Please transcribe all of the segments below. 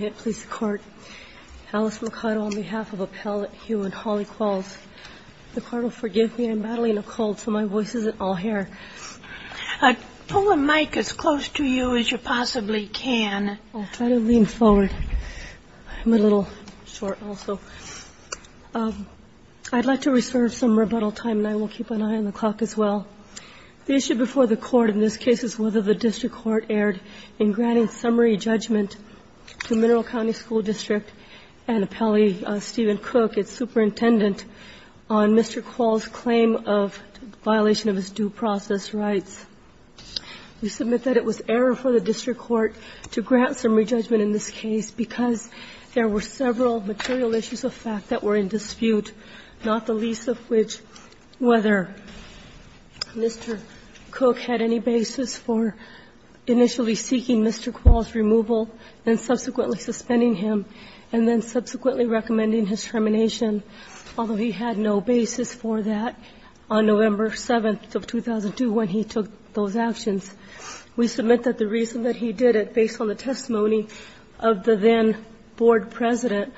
Radisson Collet Alice Mercado On behalf of Appellate Hew and Holly Qualls, the court will forgive me. I'm battling a cold, so my voice isn't all here. Pull the mic as close to you as you possibly can. I'll try to lean forward. I'm a little short also. I'd like to reserve some rebuttal time, and I will keep an eye on the clock as well. The issue before the court in this case is whether the district court erred in granting summary judgment to Mineral County School District and Appellee Stephen Cook, its superintendent, on Mr. Qualls' claim of violation of his due process rights. We submit that it was error for the district court to grant summary judgment in this case because there were several material issues of fact that were in dispute, not the least of which whether Mr. Cook had any basis for initially seeking Mr. Qualls' removal and subsequently suspending him and then subsequently recommending his termination, although he had no basis for that on November 7th of 2002 when he took those actions. We submit that the reason that he did it, based on the testimony of the then board president,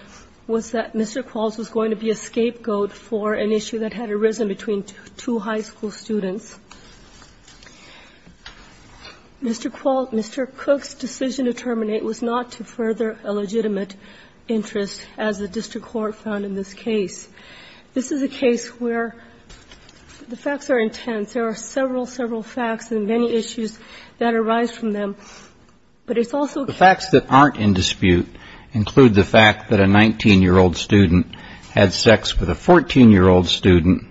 was that Mr. Qualls was going to be a scapegoat for an issue that had arisen between two high school students. Mr. Qualls' Mr. Cook's decision to terminate was not to further a legitimate interest, as the district court found in this case. This is a case where the facts are intense. There are several, several facts and many issues that arise from them, but it's also a case that aren't in dispute include the fact that a 19-year-old student had sex with a 14-year-old student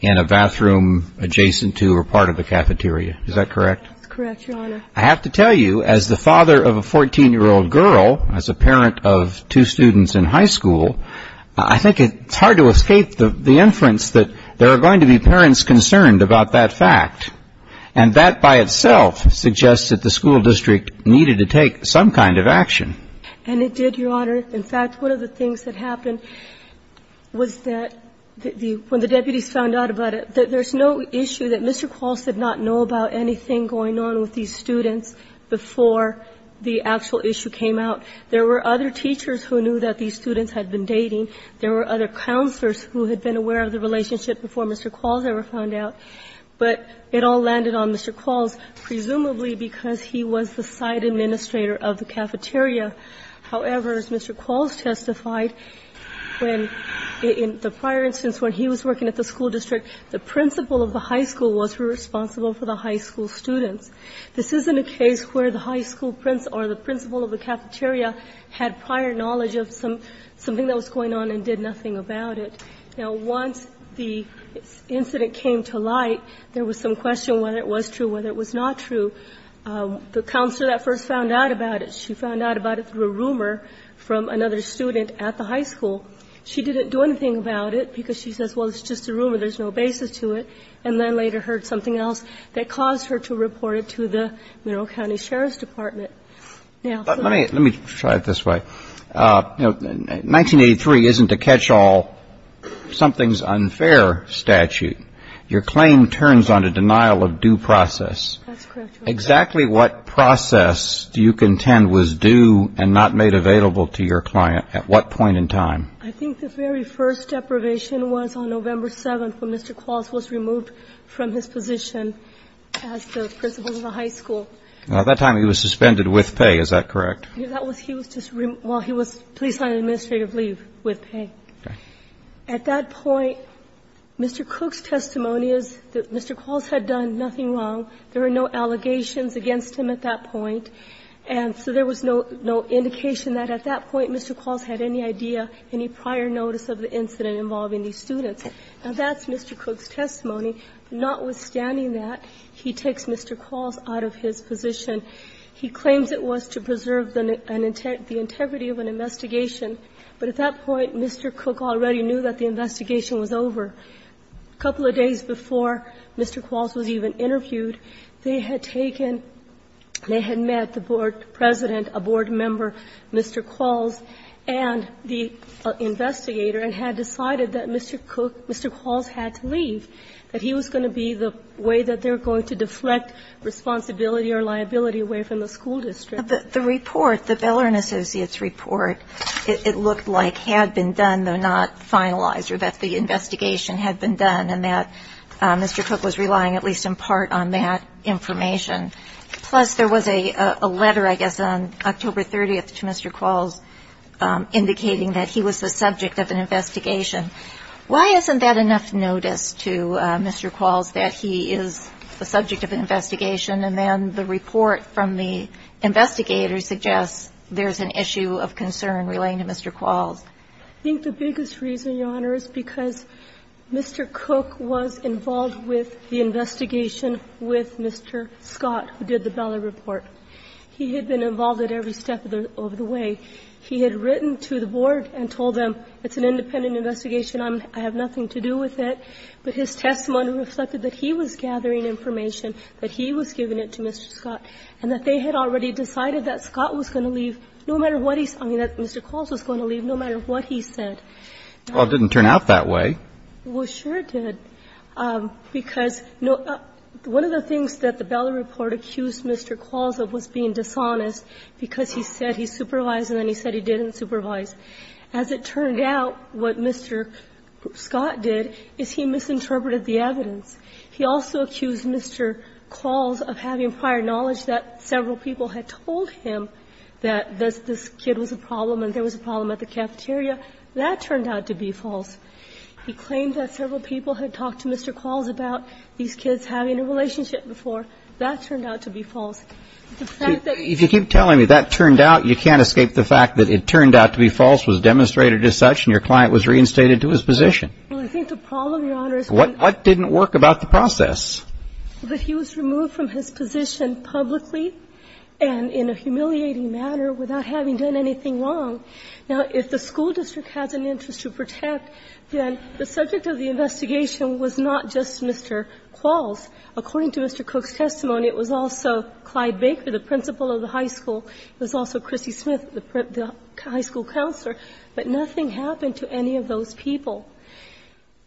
in a bathroom adjacent to or part of a cafeteria. Is that correct? That's correct, Your Honor. I have to tell you, as the father of a 14-year-old girl, as a parent of two students in high school, I think it's hard to escape the inference that there are going to be parents concerned about that fact. And that by itself suggests that the school district needed to take some kind of action. And it did, Your Honor. In fact, one of the things that happened was that when the deputies found out about it, that there's no issue that Mr. Qualls did not know about anything going on with these students before the actual issue came out. There were other teachers who knew that these students had been dating. There were other counselors who had been aware of the relationship before Mr. Qualls ever found out, but it all landed on Mr. Qualls, presumably because he was the side administrator of the cafeteria. However, as Mr. Qualls testified, in the prior instance when he was working at the school district, the principal of the high school was responsible for the high school students. This isn't a case where the high school principal or the principal of the cafeteria had prior knowledge of something that was going on and did nothing about it. Now, once the incident came to light, there was some question whether it was true, whether it was not true. The counselor that first found out about it, she found out about it through a rumor from another student at the high school. She didn't do anything about it because she says, well, it's just a rumor, there's no basis to it, and then later heard something else that caused her to report it to the Monroe County Sheriff's Department. Now, let me try it this way. 1983 isn't a catch-all, something's unfair statute. Your claim turns on a denial of due process. That's correct, Your Honor. Exactly what process do you contend was due and not made available to your client at what point in time? I think the very first deprivation was on November 7th when Mr. Qualls was removed from his position as the principal of the high school. Now, at that time he was suspended with pay, is that correct? He was just, well, he was police on administrative leave with pay. Okay. At that point, Mr. Cook's testimony is that Mr. Qualls had done nothing wrong. There were no allegations against him at that point, and so there was no indication that at that point Mr. Qualls had any idea, any prior notice of the incident involving these students. Now, that's Mr. Cook's testimony. Notwithstanding that, he takes Mr. Qualls out of his position. He claims it was to preserve the integrity of an investigation, but at that point Mr. Cook already knew that the investigation was over. A couple of days before Mr. Qualls was even interviewed, they had taken, they had met the board president, a board member, Mr. Qualls, and the investigator and had decided that Mr. Cook, Mr. Qualls had to leave. That he was going to be the way that they were going to deflect responsibility or liability away from the school district. But the report, the Bellerin Associates report, it looked like had been done, though not finalized, or that the investigation had been done, and that Mr. Cook was relying at least in part on that information. Plus, there was a letter, I guess, on October 30th to Mr. Qualls indicating that he was the subject of an investigation. Why isn't that enough notice to Mr. Qualls that he is the subject of an investigation and then the report from the investigator suggests there's an issue of concern relating to Mr. Qualls? I think the biggest reason, Your Honor, is because Mr. Cook was involved with the investigation with Mr. Scott, who did the Bellerin report. He had been involved at every step of the way. He had written to the board and told them it's an independent investigation. I have nothing to do with it. But his testimony reflected that he was gathering information, that he was giving it to Mr. Scott, and that they had already decided that Scott was going to leave no matter what he said. I mean, that Mr. Qualls was going to leave no matter what he said. Well, it didn't turn out that way. Well, sure it did. Because one of the things that the Bellerin report accused Mr. Qualls of was being and then he said he didn't supervise. As it turned out, what Mr. Scott did is he misinterpreted the evidence. He also accused Mr. Qualls of having prior knowledge that several people had told him that this kid was a problem and there was a problem at the cafeteria. That turned out to be false. He claimed that several people had talked to Mr. Qualls about these kids having a relationship before. That turned out to be false. If you keep telling me that turned out, you can't escape the fact that it turned out to be false, was demonstrated as such, and your client was reinstated to his position. Well, I think the problem, Your Honor, is that he was removed from his position publicly and in a humiliating manner without having done anything wrong. Now, if the school district has an interest to protect, then the subject of the investigation was not just Mr. Qualls. According to Mr. Cook's testimony, it was also Clyde Baker, the principal of the high school. It was also Chrissy Smith, the high school counselor. But nothing happened to any of those people.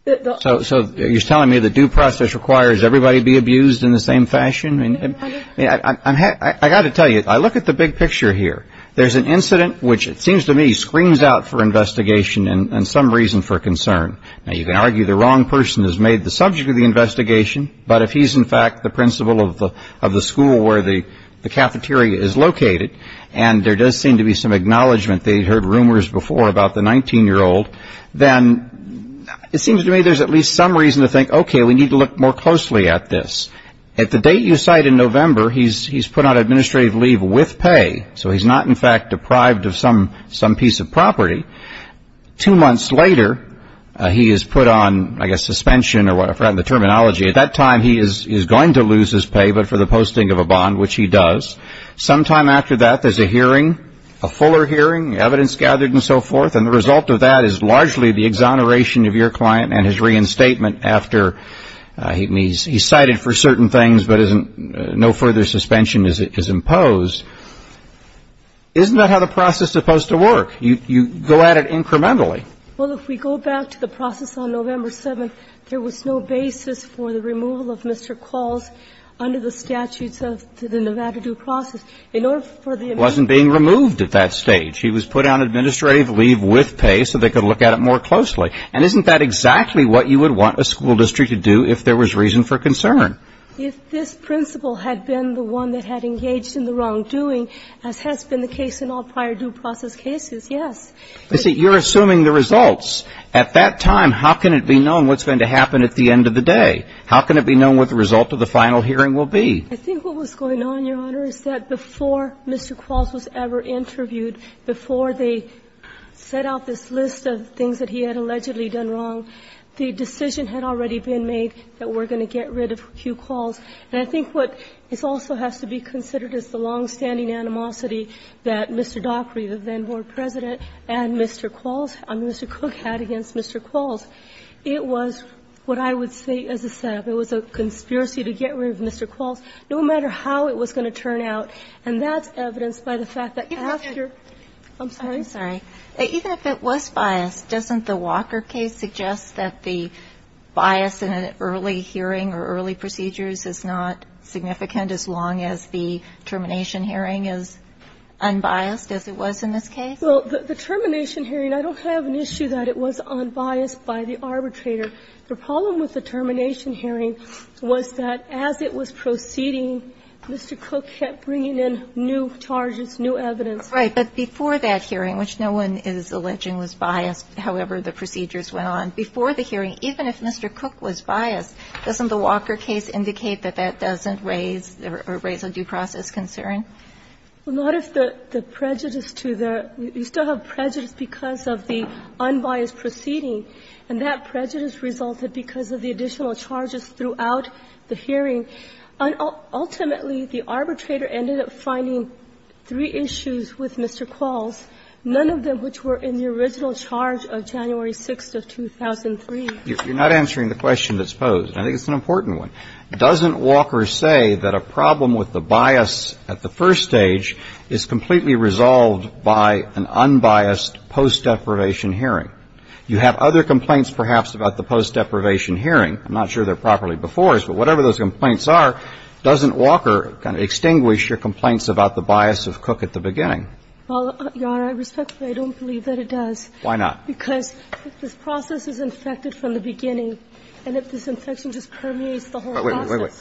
So you're telling me the due process requires everybody be abused in the same fashion? I got to tell you, I look at the big picture here. There's an incident which it seems to me screams out for investigation and some reason for concern. Now, you can argue the wrong person has made the subject of the investigation. But if he's, in fact, the principal of the school where the cafeteria is located, and there does seem to be some acknowledgment they heard rumors before about the 19-year-old, then it seems to me there's at least some reason to think, okay, we need to look more closely at this. At the date you cite in November, he's put on administrative leave with pay, so he's not, in fact, deprived of some piece of property. Two months later, he is put on, I guess, suspension or whatever, I've forgotten the terminology. At that time, he is going to lose his pay but for the posting of a bond, which he does. Sometime after that, there's a hearing, a fuller hearing, evidence gathered and so forth. And the result of that is largely the exoneration of your client and his reinstatement after he's cited for certain things but no further suspension is imposed. Isn't that how the process is supposed to work? You go at it incrementally. Well, if we go back to the process on November 7th, there was no basis for the removal of Mr. Qualls under the statutes of the Nevada due process. In order for the amendment to take place. He wasn't being removed at that stage. He was put on administrative leave with pay so they could look at it more closely. And isn't that exactly what you would want a school district to do if there was reason for concern? If this principal had been the one that had engaged in the wrongdoing, as has been the case in all prior due process cases, yes. But you're assuming the results. At that time, how can it be known what's going to happen at the end of the day? How can it be known what the result of the final hearing will be? I think what was going on, Your Honor, is that before Mr. Qualls was ever interviewed, before they set out this list of things that he had allegedly done wrong, the decision had already been made that we're going to get rid of Hugh Qualls. And I think what also has to be considered is the long-standing animosity that Mr. Daugherty, the then board president, and Mr. Qualls, I mean, Mr. Cook, had against Mr. Qualls. It was what I would say as a setup. It was a conspiracy to get rid of Mr. Qualls, no matter how it was going to turn out. And that's evidenced by the fact that after you're going to get rid of Mr. Daugherty. I'm sorry? I'm sorry. Even if it was biased, doesn't the Walker case suggest that the bias in an early hearing or early procedures is not significant as long as the termination hearing is unbiased as it was in this case? Well, the termination hearing, I don't have an issue that it was unbiased by the arbitrator. The problem with the termination hearing was that as it was proceeding, Mr. Cook kept bringing in new charges, new evidence. Right. But before that hearing, which no one is alleging was biased, however the procedures went on before the hearing, even if Mr. Cook was biased, doesn't the Walker case indicate that that doesn't raise or raise a due process concern? Well, not if the prejudice to the – you still have prejudice because of the unbiased proceeding, and that prejudice resulted because of the additional charges throughout the hearing. Ultimately, the arbitrator ended up finding three issues with Mr. Qualls, none of them which were in the original charge of January 6th of 2003. You're not answering the question that's posed. I think it's an important one. Doesn't Walker say that a problem with the bias at the first stage is completely resolved by an unbiased post-deprivation hearing? You have other complaints, perhaps, about the post-deprivation hearing. I'm not sure they're properly before us, but whatever those complaints are, doesn't Well, Your Honor, respectfully, I don't believe that it does. Why not? Because if this process is infected from the beginning, and if this infection just permeates the whole process – Wait, wait, wait, wait.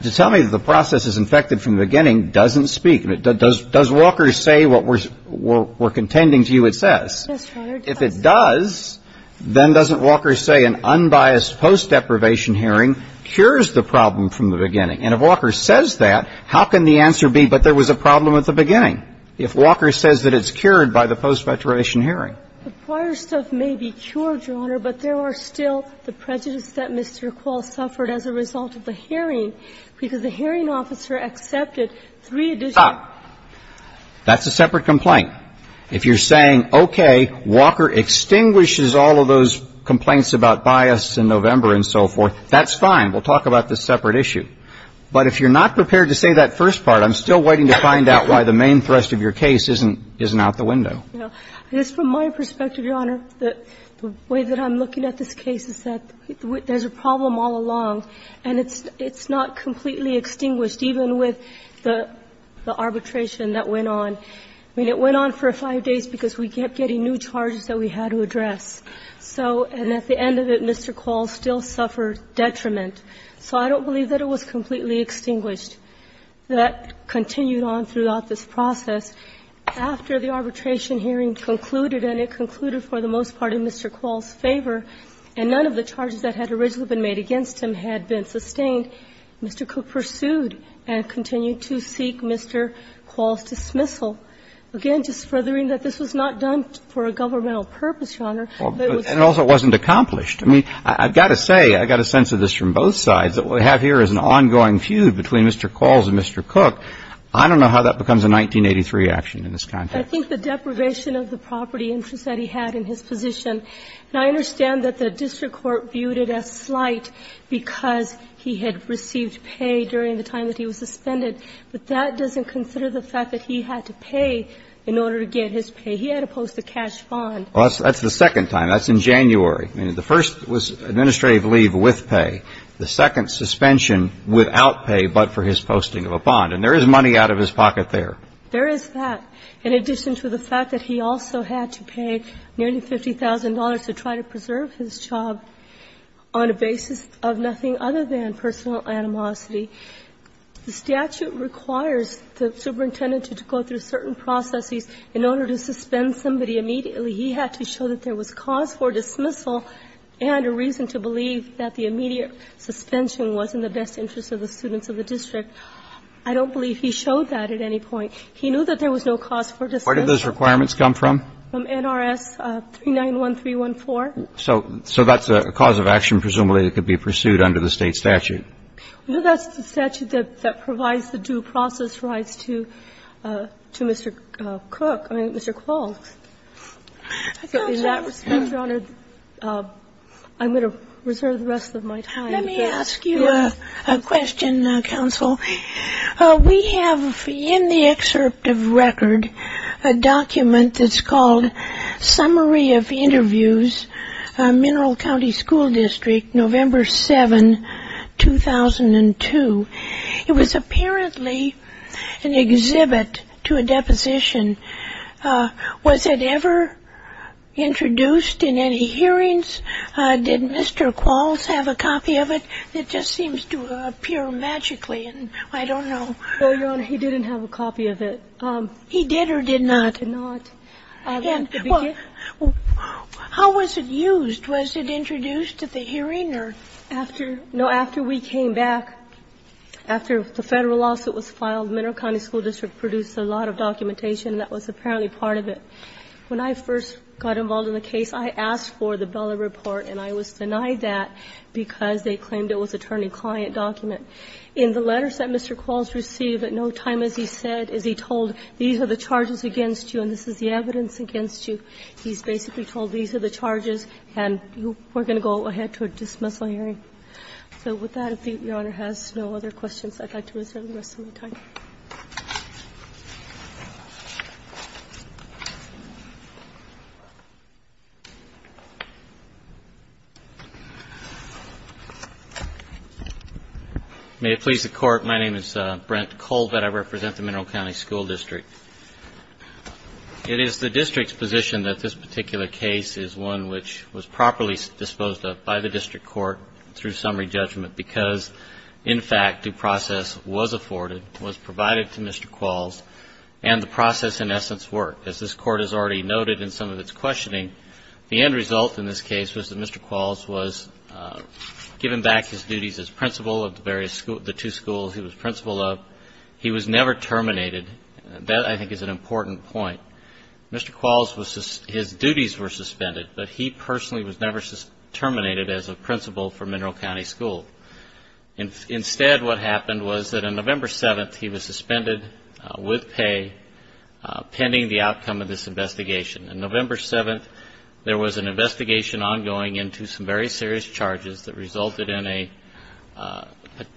Just tell me if the process is infected from the beginning doesn't speak. Does Walker say what we're contending to you it says? Yes, Your Honor, it does. If it does, then doesn't Walker say an unbiased post-deprivation hearing cures the problem from the beginning? And if Walker says that, how can the answer be, but there was a problem at the beginning, if Walker says that it's cured by the post-deprivation hearing? The prior stuff may be cured, Your Honor, but there are still the prejudices that Mr. Quall suffered as a result of the hearing, because the hearing officer accepted three additional – Stop. That's a separate complaint. If you're saying, okay, Walker extinguishes all of those complaints about bias in November and so forth, that's fine. We'll talk about this separate issue. But if you're not prepared to say that first part, I'm still waiting to find out why the main thrust of your case isn't out the window. Yes. From my perspective, Your Honor, the way that I'm looking at this case is that there's a problem all along, and it's not completely extinguished, even with the arbitration that went on. I mean, it went on for five days because we kept getting new charges that we had to address. And at the end of it, Mr. Quall still suffered detriment. So I don't believe that it was completely extinguished. That continued on throughout this process. After the arbitration hearing concluded, and it concluded for the most part in Mr. Quall's favor, and none of the charges that had originally been made against him had been sustained, Mr. Cook pursued and continued to seek Mr. Quall's dismissal. Again, just furthering that this was not done for a governmental purpose, Your Honor. And also it wasn't accomplished. I mean, I've got to say, I've got a sense of this from both sides, that what we have here is an ongoing feud between Mr. Quall and Mr. Cook. I don't know how that becomes a 1983 action in this context. I think the deprivation of the property interest that he had in his position, and I understand that the district court viewed it as slight because he had received pay during the time that he was suspended, but that doesn't consider the fact that he had to pay in order to get his pay. He had to post a cash bond. Well, that's the second time. That's in January. I mean, the first was administrative leave with pay. The second, suspension without pay but for his posting of a bond. And there is money out of his pocket there. There is that. In addition to the fact that he also had to pay nearly $50,000 to try to preserve his job on a basis of nothing other than personal animosity, the statute requires the superintendent to go through certain processes in order to suspend somebody immediately. He had to show that there was cause for dismissal and a reason to believe that the immediate suspension was in the best interest of the students of the district. I don't believe he showed that at any point. He knew that there was no cause for dismissal. Where did those requirements come from? From NRS 391314. So that's a cause of action presumably that could be pursued under the State statute. Well, that's the statute that provides the due process rights to Mr. Cook, I mean, Mr. Qualms. In that respect, Your Honor, I'm going to reserve the rest of my time. Let me ask you a question, counsel. We have in the excerpt of record a document that's called Summary of Interviews, Mineral County School District, November 7, 2002. It was apparently an exhibit to a deposition. Was it ever introduced in any hearings? Did Mr. Qualms have a copy of it? It just seems to appear magically, and I don't know. No, Your Honor, he didn't have a copy of it. He did or did not? He did not. Well, how was it used? Was it introduced at the hearing or? After we came back, after the Federal lawsuit was filed, Mineral County School District produced a lot of documentation that was apparently part of it. When I first got involved in the case, I asked for the Bella report, and I was denied that because they claimed it was attorney-client document. In the letters that Mr. Qualms received, at no time, as he said, as he told, these are the charges against you, and this is the evidence against you, he's basically told these are the charges, and we're going to go ahead to a dismissal hearing. So with that, if Your Honor has no other questions, I'd like to reserve the rest of my time. Thank you. May it please the Court, my name is Brent Colbert. I represent the Mineral County School District. It is the district's position that this particular case is one which was properly disposed of by the district court through summary judgment because, in fact, due process was afforded, was provided to Mr. Qualms, and the process, in essence, worked. As this Court has already noted in some of its questioning, the end result in this case was that Mr. Qualms was given back his duties as principal of the two schools he was principal of. He was never terminated. That, I think, is an important point. Mr. Qualms, his duties were suspended, but he personally was never terminated as a principal for Mineral County School. Instead, what happened was that on November 7th, he was suspended with pay pending the outcome of this investigation. On November 7th, there was an investigation ongoing into some very serious charges that resulted in a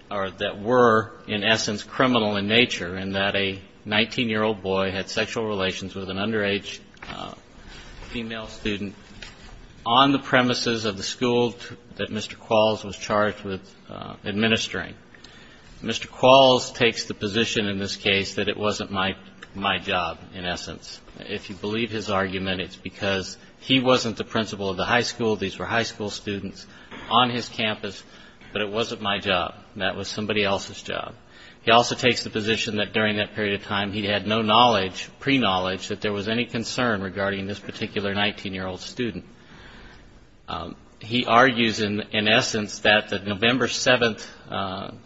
or that were, in essence, criminal in nature, in that a 19-year-old boy had sexual relations with an underage female student on the premises of the school that Mr. Qualms was charged with administering. Mr. Qualms takes the position in this case that it wasn't my job, in essence. If you believe his argument, it's because he wasn't the principal of the high school. These were high school students on his campus, but it wasn't my job. That was somebody else's job. He also takes the position that during that period of time, he had no knowledge, pre-knowledge, that there was any concern regarding this particular 19-year-old student. He argues, in essence, that the November 7th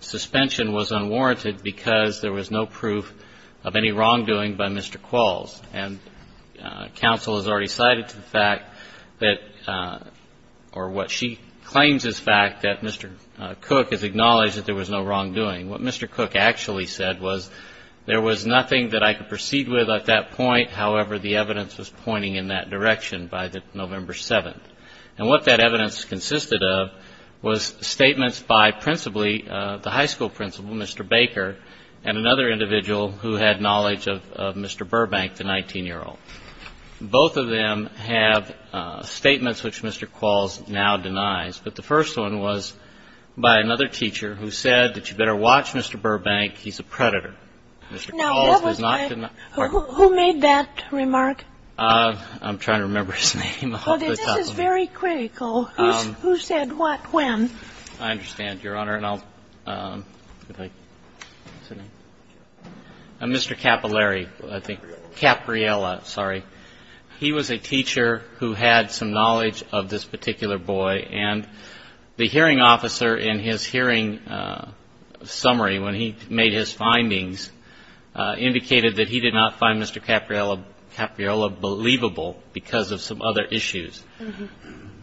suspension was unwarranted because there was no proof of any wrongdoing by Mr. Qualms. And counsel has already cited the fact that, or what she claims is fact, that Mr. Cook has acknowledged that there was no wrongdoing. What Mr. Cook actually said was, there was nothing that I could proceed with at that point. However, the evidence was pointing in that direction by November 7th. And what that evidence consisted of was statements by principally the high school principal, Mr. Baker, and another individual who had knowledge of Mr. Burbank, the 19-year-old. Both of them have statements which Mr. Qualms now denies. But the first one was by another teacher who said that you better watch Mr. Burbank. He's a predator. Mr. Qualms has not denied it. Now, that was by, who made that remark? I'm trying to remember his name off the top of my head. Well, this is very critical. Who said what when? I understand, Your Honor. And I'll, if I could sit down. Mr. Capolari, I think. Capriola. Capriola, sorry. He was a teacher who had some knowledge of this particular boy. And the hearing officer, in his hearing summary when he made his findings, indicated that he did not find Mr. Capriola believable because of some other issues.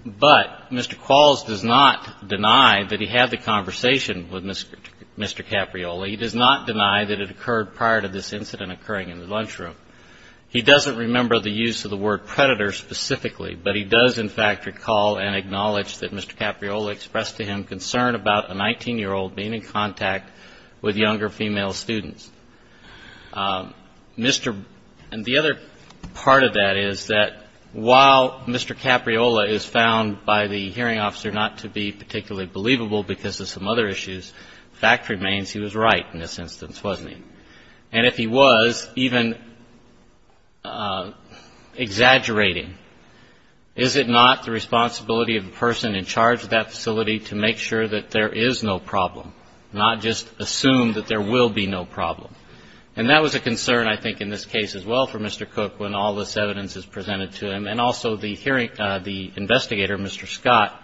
But Mr. Qualms does not deny that he had the conversation with Mr. Capriola. He does not deny that it occurred prior to this incident occurring in the lunchroom. He doesn't remember the use of the word predator specifically, but he does, in fact, recall and acknowledge that Mr. Capriola expressed to him concern about a 19-year-old being in contact with younger female students. And the other part of that is that while Mr. Capriola is found by the hearing officer not to be particularly believable because of some other issues, the fact remains he was right in this instance, wasn't he? And if he was, even exaggerating, is it not the responsibility of the person in charge of that facility to make sure that there is no problem, not just assume that there will be no problem? And that was a concern, I think, in this case as well for Mr. Cook when all this evidence is presented to him, and also the hearing, the investigator, Mr. Scott,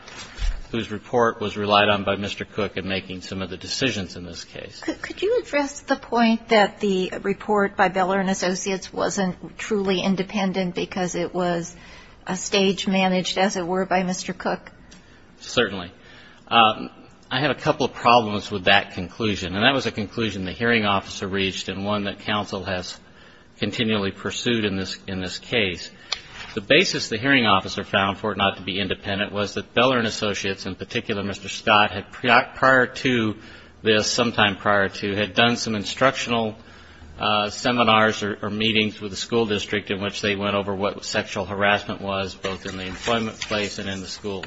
whose report was relied on by Mr. Cook in making some of the decisions in this case. Could you address the point that the report by Beller and Associates wasn't truly independent because it was a stage managed, as it were, by Mr. Cook? Certainly. I had a couple of problems with that conclusion, and that was a conclusion the hearing officer reached and one that counsel has continually pursued in this case. The basis the hearing officer found for it not to be independent was that Beller and Associates, in particular Mr. Scott, had prior to this, sometime prior to, had done some instructional seminars or meetings with the school district in which they went over what sexual harassment was, both in the employment place and in the school,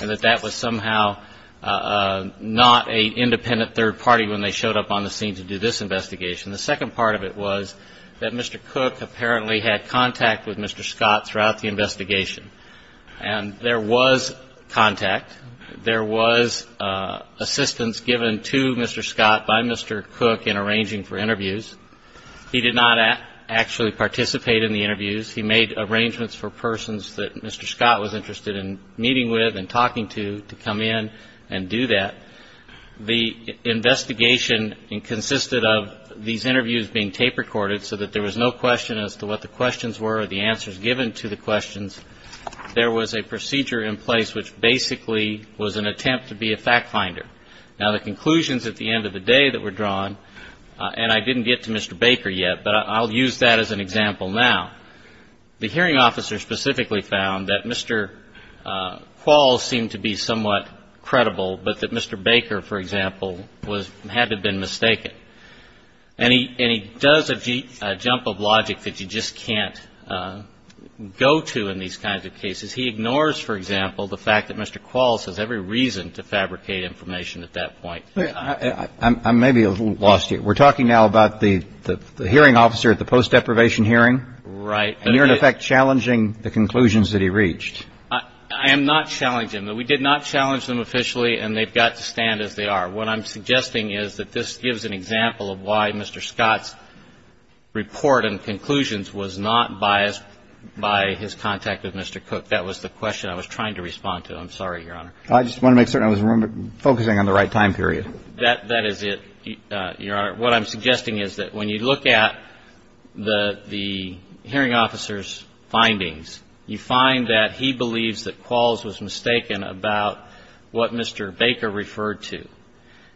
and that that was somehow not an independent third party when they showed up on the scene to do this investigation. The second part of it was that Mr. Cook apparently had contact with Mr. Scott throughout the investigation, and there was contact. There was assistance given to Mr. Scott by Mr. Cook in arranging for interviews. He did not actually participate in the interviews. He made arrangements for persons that Mr. Scott was interested in meeting with and talking to to come in and do that. The investigation consisted of these interviews being tape recorded so that there was no question as to what the questions were or the answers given to the questions. There was a procedure in place which basically was an attempt to be a fact finder. Now, the conclusions at the end of the day that were drawn, and I didn't get to Mr. Baker yet, but I'll use that as an example now. The hearing officer specifically found that Mr. Quall seemed to be somewhat credible, but that Mr. Baker, for example, had to have been mistaken. And he does a jump of logic that you just can't go to in these kinds of cases. He ignores, for example, the fact that Mr. Quall says every reason to fabricate information at that point. I may be a little lost here. We're talking now about the hearing officer at the post-deprivation hearing. Right. And you're, in effect, challenging the conclusions that he reached. I am not challenging them. We did not challenge them officially, and they've got to stand as they are. What I'm suggesting is that this gives an example of why Mr. Scott's report and conclusions was not biased by his contact with Mr. Cook. That was the question I was trying to respond to. I'm sorry, Your Honor. I just want to make certain I was focusing on the right time period. That is it, Your Honor. What I'm suggesting is that when you look at the hearing officer's findings, you find that he believes that Qualls was mistaken about what Mr. Baker referred to.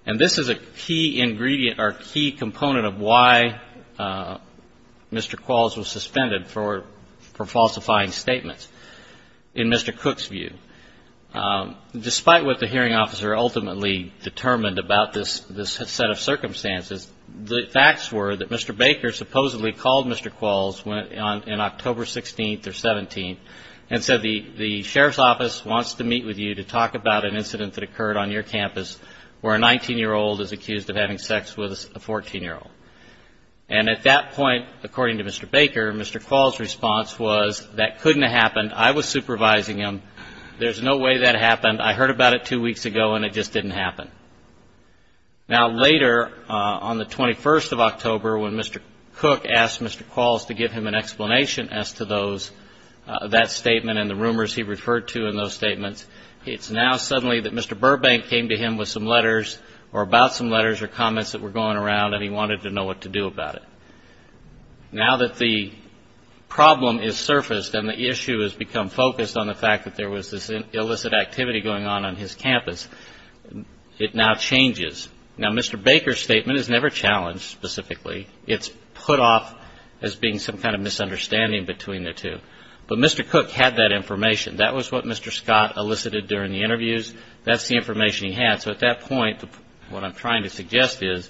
And this is a key ingredient or key component of why Mr. Qualls was suspended for falsifying statements. In Mr. Cook's view, despite what the hearing officer ultimately determined about this set of circumstances, the facts were that Mr. Baker supposedly called Mr. Qualls in October 16th or 17th and said the sheriff's office wants to meet with you to talk about an incident that occurred on your campus where a 19-year-old is accused of having sex with a 14-year-old. And at that point, according to Mr. Baker, Mr. Qualls' response was that couldn't have happened. I was supervising him. There's no way that happened. I heard about it two weeks ago, and it just didn't happen. Now, later, on the 21st of October, when Mr. Cook asked Mr. Qualls to give him an explanation as to those, that statement and the rumors he referred to in those statements, it's now suddenly that Mr. Burbank came to him with some letters or about some letters or comments that were going around, and he wanted to know what to do about it. Now that the problem has surfaced and the issue has become focused on the fact that there was this illicit activity going on on his campus, it now changes. Now, Mr. Baker's statement is never challenged specifically. It's put off as being some kind of misunderstanding between the two. But Mr. Cook had that information. That was what Mr. Scott elicited during the interviews. That's the information he had. So at that point, what I'm trying to suggest is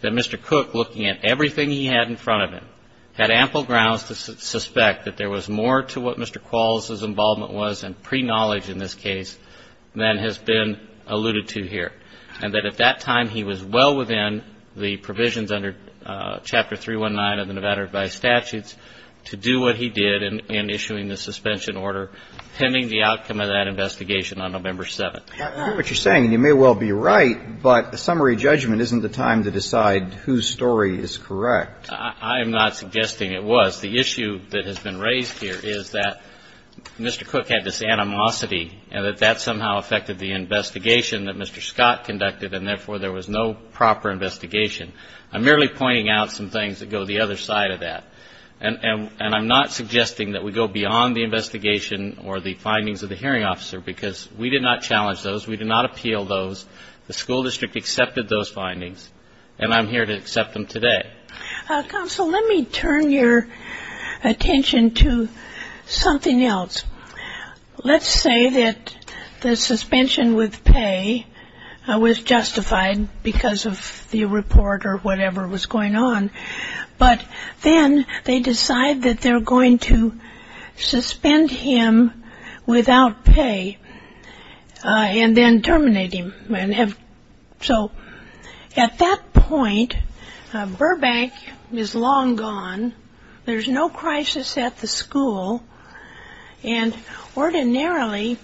that Mr. Cook, looking at everything he had in front of him, had ample grounds to suspect that there was more to what Mr. Qualls' involvement was and pre-knowledge in this case than has been alluded to here, and that at that time he was well within the provisions under Chapter 319 of the Nevada Revised Statutes to do what he did in issuing the suspension order pending the outcome of that investigation on November 7th. I know what you're saying, and you may well be right, but a summary judgment isn't the time to decide whose story is correct. I am not suggesting it was. The issue that has been raised here is that Mr. Cook had this animosity and that that somehow affected the investigation that Mr. Scott conducted, and therefore there was no proper investigation. I'm merely pointing out some things that go the other side of that. And I'm not suggesting that we go beyond the investigation or the findings of the hearing officer, because we did not challenge those. We did not appeal those. The school district accepted those findings, and I'm here to accept them today. Counsel, let me turn your attention to something else. Let's say that the suspension with pay was justified because of the report or whatever was going on, but then they decide that they're going to suspend him without pay and then terminate him. So at that point, Burbank is long gone. There's no crisis at the school. And ordinarily,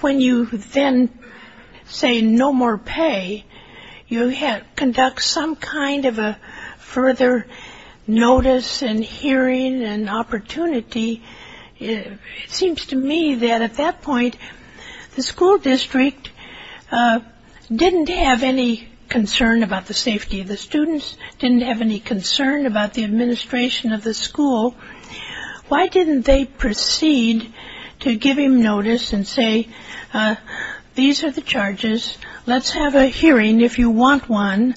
when you then say no more pay, you conduct some kind of a further notice and hearing and opportunity. It seems to me that at that point, the school district didn't have any concern about the safety of the students, didn't have any concern about the administration of the school. Why didn't they proceed to give him notice and say, these are the charges. Let's have a hearing if you want one.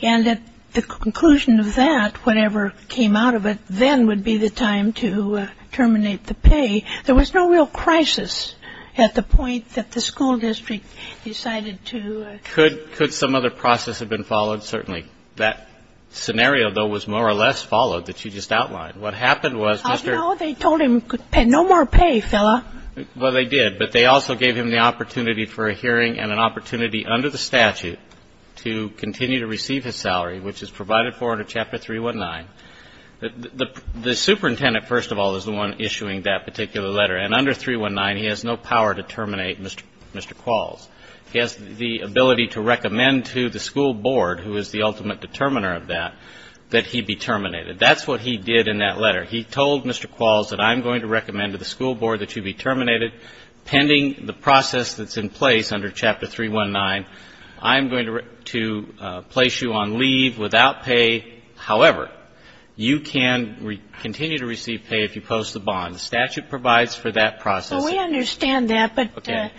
And at the conclusion of that, whatever came out of it then would be the time to terminate the pay. There was no real crisis at the point that the school district decided to. Could some other process have been followed? Certainly. That scenario, though, was more or less followed that you just outlined. What happened was Mr. No, they told him no more pay, fella. Well, they did. They gave him the opportunity for a hearing and an opportunity under the statute to continue to receive his salary, which is provided for in Chapter 319. The superintendent, first of all, is the one issuing that particular letter. And under 319, he has no power to terminate Mr. Qualls. He has the ability to recommend to the school board, who is the ultimate determiner of that, that he be terminated. That's what he did in that letter. He told Mr. Qualls that I'm going to recommend to the school board that you be terminated pending the process that's in place under Chapter 319. I'm going to place you on leave without pay. However, you can continue to receive pay if you post the bond. The statute provides for that process. So we understand that, but the court.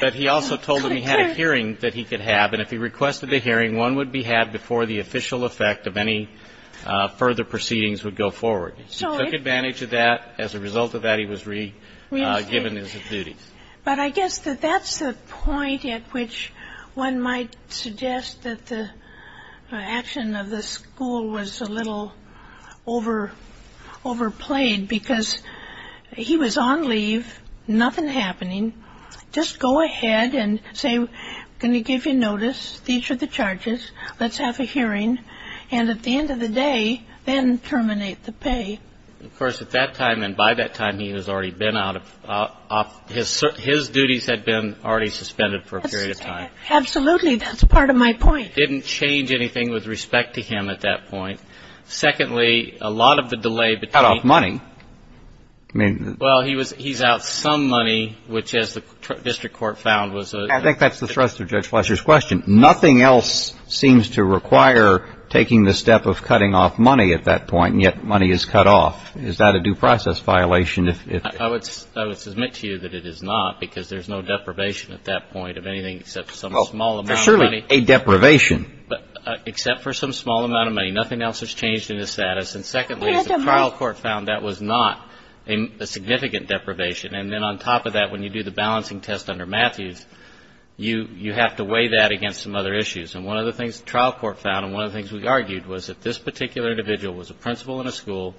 But he also told him he had a hearing that he could have. And if he requested a hearing, one would be had before the official effect of any further proceedings would go forward. He took advantage of that. As a result of that, he was re-given his duties. But I guess that that's the point at which one might suggest that the action of the school was a little overplayed, because he was on leave, nothing happening. Just go ahead and say, I'm going to give you notice. These are the charges. Let's have a hearing. And at the end of the day, then terminate the pay. Of course, at that time and by that time, he was already been out of his duties had been already suspended for a period of time. Absolutely. That's part of my point. Didn't change anything with respect to him at that point. Secondly, a lot of the delay between. Cut off money. I mean, well, he was he's out some money, which is the district court found was. I think that's the thrust of Judge Fletcher's question. Nothing else seems to require taking the step of cutting off money at that point. Yet money is cut off. Is that a due process violation? If I would, I would submit to you that it is not because there's no deprivation at that point of anything. Except some small money. Surely a deprivation. But except for some small amount of money, nothing else has changed in the status. And secondly, the trial court found that was not a significant deprivation. And then on top of that, when you do the balancing test under Matthews, you you have to weigh that against some other issues. And one of the things the trial court found and one of the things we argued was that this particular individual was a principal in a school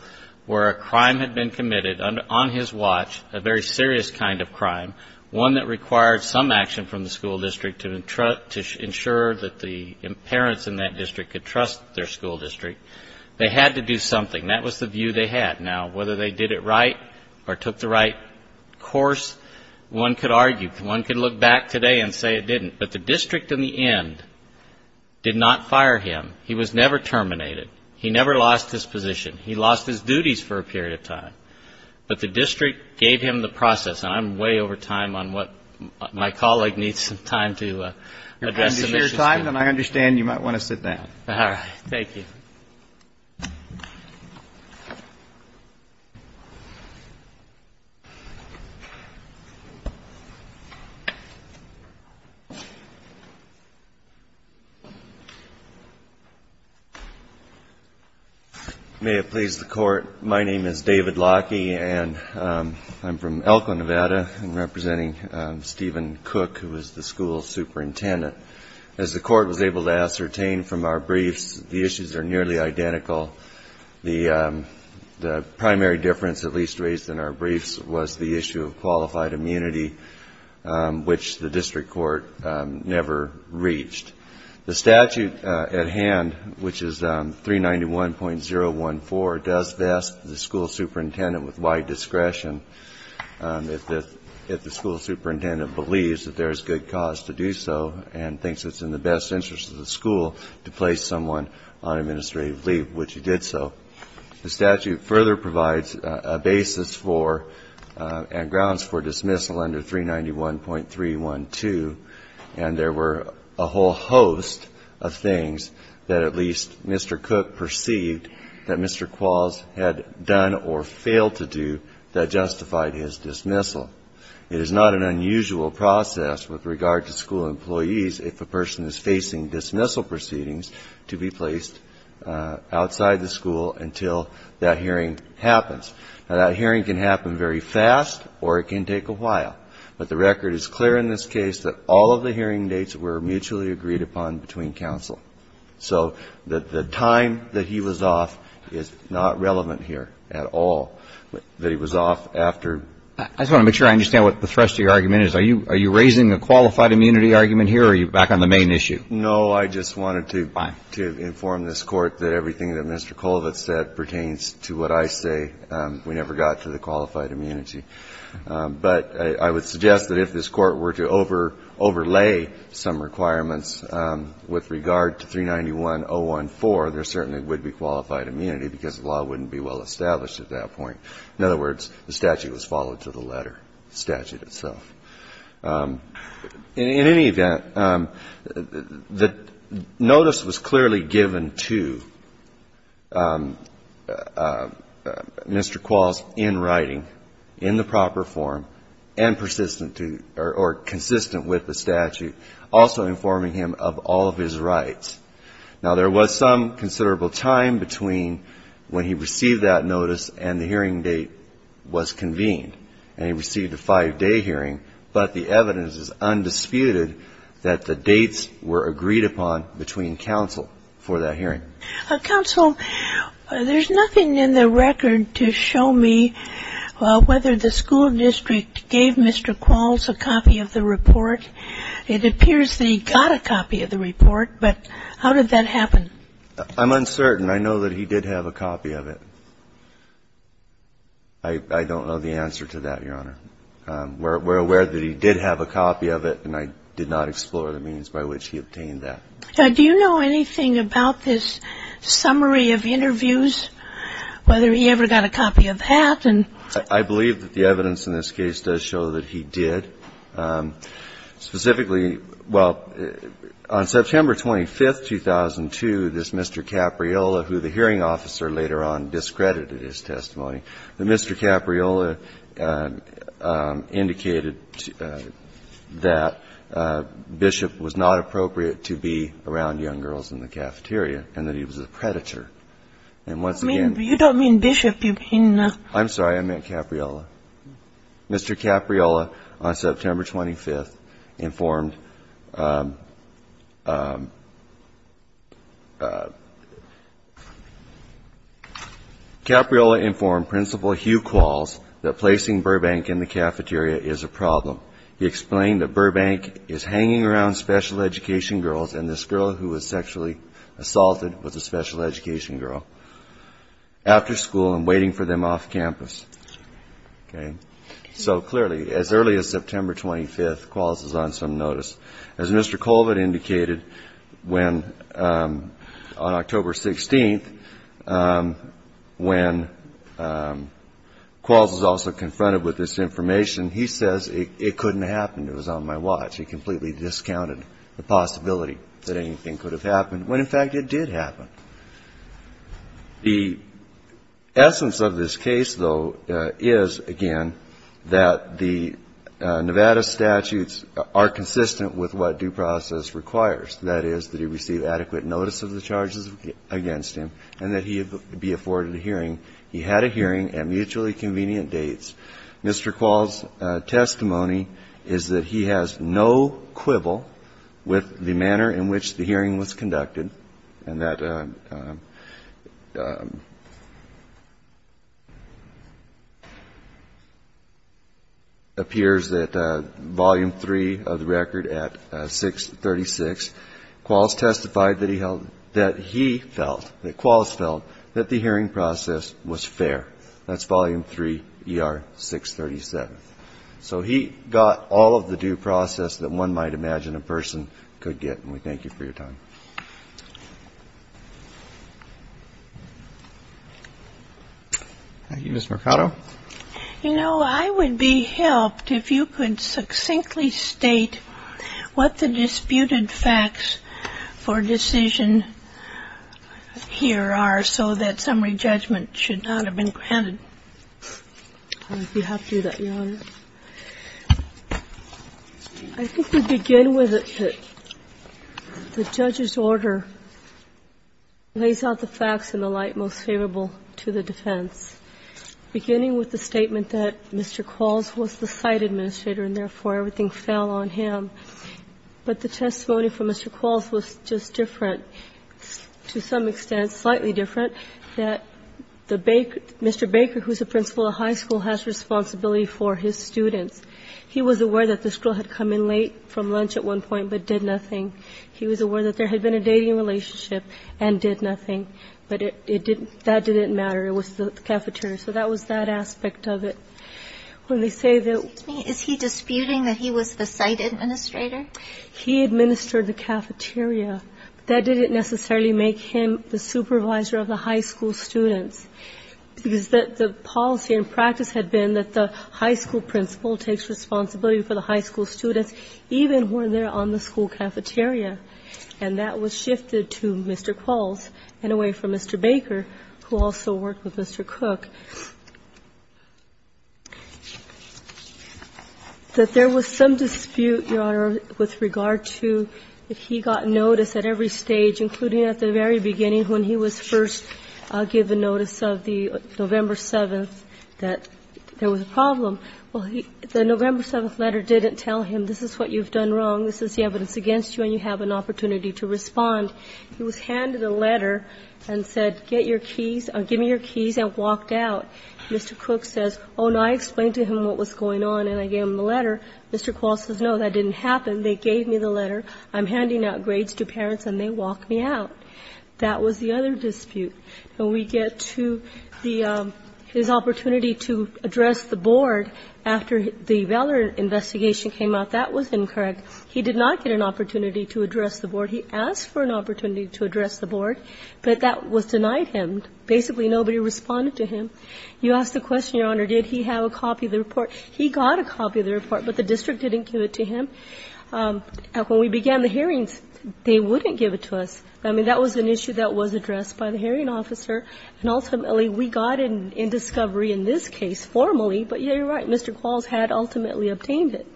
where a crime had been committed on his watch, a very serious kind of crime, one that required some action from the school district to ensure that the parents in that district could trust their school district. They had to do something. That was the view they had. Now, whether they did it right or took the right course, one could argue. One could look back today and say it didn't. But the district in the end did not fire him. He was never terminated. He never lost his position. He lost his duties for a period of time. But the district gave him the process. And I'm way over time on what my colleague needs some time to address. I understand you might want to sit down. Thank you. May it please the Court. My name is David Lockie, and I'm from Elko, Nevada. I'm representing Stephen Cook, who is the school superintendent. As the Court was able to ascertain from our briefs, the issues are nearly identical. The primary difference, at least raised in our briefs, was the issue of qualified immunity, which the district court never reached. The statute at hand, which is 391.014, does vest the school superintendent with wide discretion. If the school superintendent believes that there is good cause to do so and thinks it's in the best interest of the school to place someone on administrative leave, which he did so. The statute further provides a basis for and grounds for dismissal under 391.312. And there were a whole host of things that at least Mr. Cook perceived that Mr. Qualls had done or failed to do that justified his dismissal. It is not an unusual process with regard to school employees if a person is facing dismissal proceedings to be placed outside the school until that hearing happens. Now, that hearing can happen very fast or it can take a while. But the record is clear in this case that all of the hearing dates were mutually agreed upon between counsel. So the time that he was off is not relevant here at all, that he was off after. I just want to make sure I understand what the thrust of your argument is. Are you raising a qualified immunity argument here or are you back on the main issue? No. I just wanted to inform this Court that everything that Mr. Colvett said pertains to what I say. We never got to the qualified immunity. But I would suggest that if this Court were to overlay some requirements with regard to 391.014, there certainly would be qualified immunity, because the law wouldn't be well established at that point. In other words, the statute was followed to the letter, the statute itself. In any event, the notice was clearly given to Mr. Qualls in writing. In the proper form and consistent with the statute. Also informing him of all of his rights. Now, there was some considerable time between when he received that notice and the hearing date was convened. And he received a five-day hearing. But the evidence is undisputed that the dates were agreed upon between counsel for that hearing. Counsel, there's nothing in the record to show me whether the school district gave Mr. Qualls a copy of the report. It appears that he got a copy of the report, but how did that happen? I'm uncertain. I know that he did have a copy of it. I don't know the answer to that, Your Honor. We're aware that he did have a copy of it, and I did not explore the means by which he obtained that. Do you know anything about this summary of interviews, whether he ever got a copy of that? I believe that the evidence in this case does show that he did. Specifically, well, on September 25, 2002, this Mr. Capriola, who the hearing officer later on discredited his testimony, Mr. Capriola indicated that Bishop was not appropriate to be around young girls in the cafeteria and that he was a predator. And once again ---- You don't mean Bishop. You mean ---- I'm sorry. I meant Capriola. Mr. Capriola, on September 25th, informed ---- Capriola informed Principal Hugh Qualls that placing Burbank in the cafeteria is a problem. He explained that Burbank is hanging around special education girls and this girl who was sexually assaulted was a special education girl after school and waiting for them off campus. Okay? So, clearly, as early as September 25th, Qualls is on some notice. As Mr. Colvin indicated, on October 16th, when Qualls is also confronted with this on my watch, he completely discounted the possibility that anything could have happened when, in fact, it did happen. The essence of this case, though, is, again, that the Nevada statutes are consistent with what due process requires, that is, that he receive adequate notice of the charges against him and that he be afforded a hearing. He had a hearing at mutually convenient dates. Mr. Qualls' testimony is that he has no quibble with the manner in which the hearing was conducted and that appears at volume three of the record at 636. Qualls testified that he felt, that Qualls felt that the hearing process was fair. That's volume three, ER 637. So he got all of the due process that one might imagine a person could get. And we thank you for your time. Thank you. Ms. Mercado? You know, I would be helped if you could succinctly state what the disputed facts for decision here are so that summary judgment should not have been granted. If you have to do that, Your Honor. I think we begin with the judge's order lays out the facts in the light most favorable to the defense. Beginning with the statement that Mr. Qualls was the site administrator and therefore everything fell on him. But the testimony from Mr. Qualls was just different, to some extent slightly different, that Mr. Baker, who is the principal of the high school, has responsibility for his students. He was aware that the school had come in late from lunch at one point but did nothing. He was aware that there had been a dating relationship and did nothing. But it didn't, that didn't matter. It was the cafeteria. So that was that aspect of it. When they say that. Excuse me. Is he disputing that he was the site administrator? He administered the cafeteria. That didn't necessarily make him the supervisor of the high school students. The policy and practice had been that the high school principal takes responsibility for the high school students, even when they're on the school cafeteria. And that was shifted to Mr. Qualls and away from Mr. Baker, who also worked with Mr. Cook. That there was some dispute, Your Honor, with regard to if he got notice at every stage, including at the very beginning when he was first given notice of the November 7th that there was a problem. Well, the November 7th letter didn't tell him this is what you've done wrong, this is the evidence against you, and you have an opportunity to respond. He was handed a letter and said, get your keys, give me your keys, and walked out. Mr. Cook says, oh, and I explained to him what was going on, and I gave him the letter. Mr. Qualls says, no, that didn't happen. They gave me the letter. I'm handing out grades to parents, and they walked me out. That was the other dispute. When we get to the, his opportunity to address the board after the Veller investigation came out, that was incorrect. He did not get an opportunity to address the board. He asked for an opportunity to address the board, but that was denied him. Basically, nobody responded to him. You ask the question, Your Honor, did he have a copy of the report? He got a copy of the report, but the district didn't give it to him. When we began the hearings, they wouldn't give it to us. I mean, that was an issue that was addressed by the hearing officer, and ultimately we got it in discovery in this case formally, but you're right. Mr. Qualls had ultimately obtained it.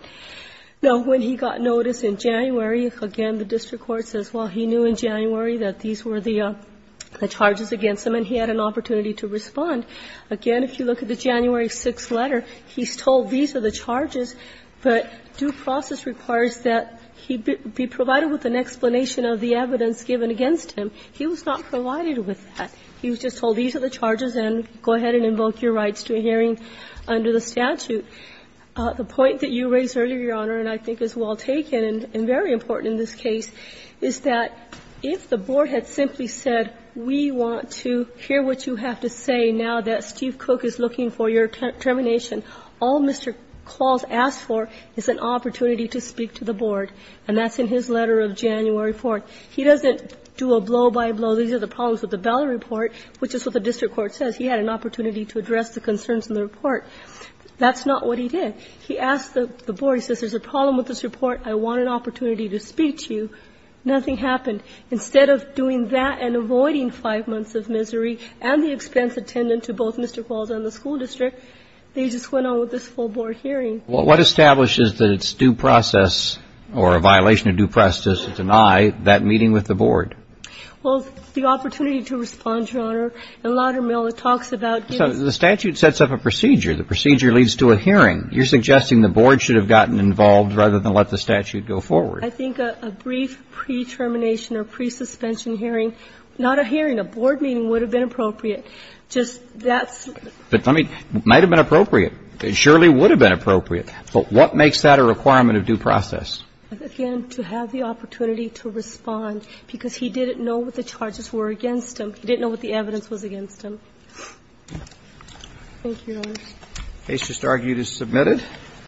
Now, when he got notice in January, again, the district court says, well, he knew in January that these were the charges against him, and he had an opportunity to respond. Again, if you look at the January 6th letter, he's told these are the charges, but due process requires that he be provided with an explanation of the evidence given against him. He was not provided with that. He was just told these are the charges and go ahead and invoke your rights to a hearing under the statute. The point that you raised earlier, Your Honor, and I think is well taken and very important in this case, is that if the board had simply said, we want to hear what you have to say now that Steve Cook is looking for your termination, all Mr. Qualls asked for is an opportunity to speak to the board. And that's in his letter of January 4th. He doesn't do a blow-by-blow. These are the problems with the Bell report, which is what the district court says. He had an opportunity to address the concerns in the report. That's not what he did. He asked the board. He says there's a problem with this report. I want an opportunity to speak to you. Nothing happened. Instead of doing that and avoiding five months of misery and the expense attendant to both Mr. Qualls and the school district, they just went on with this full board hearing. Well, what establishes that it's due process or a violation of due process to deny that meeting with the board? Well, the opportunity to respond, Your Honor. The statute sets up a procedure. The procedure leads to a hearing. You're suggesting the board should have gotten involved rather than let the statute go forward. I think a brief pre-termination or pre-suspension hearing, not a hearing, a board meeting would have been appropriate. Just that's the thing. It might have been appropriate. It surely would have been appropriate. But what makes that a requirement of due process? Again, to have the opportunity to respond, because he didn't know what the charges were against him. He didn't know what the evidence was against him. Thank you, Your Honor. The case is submitted.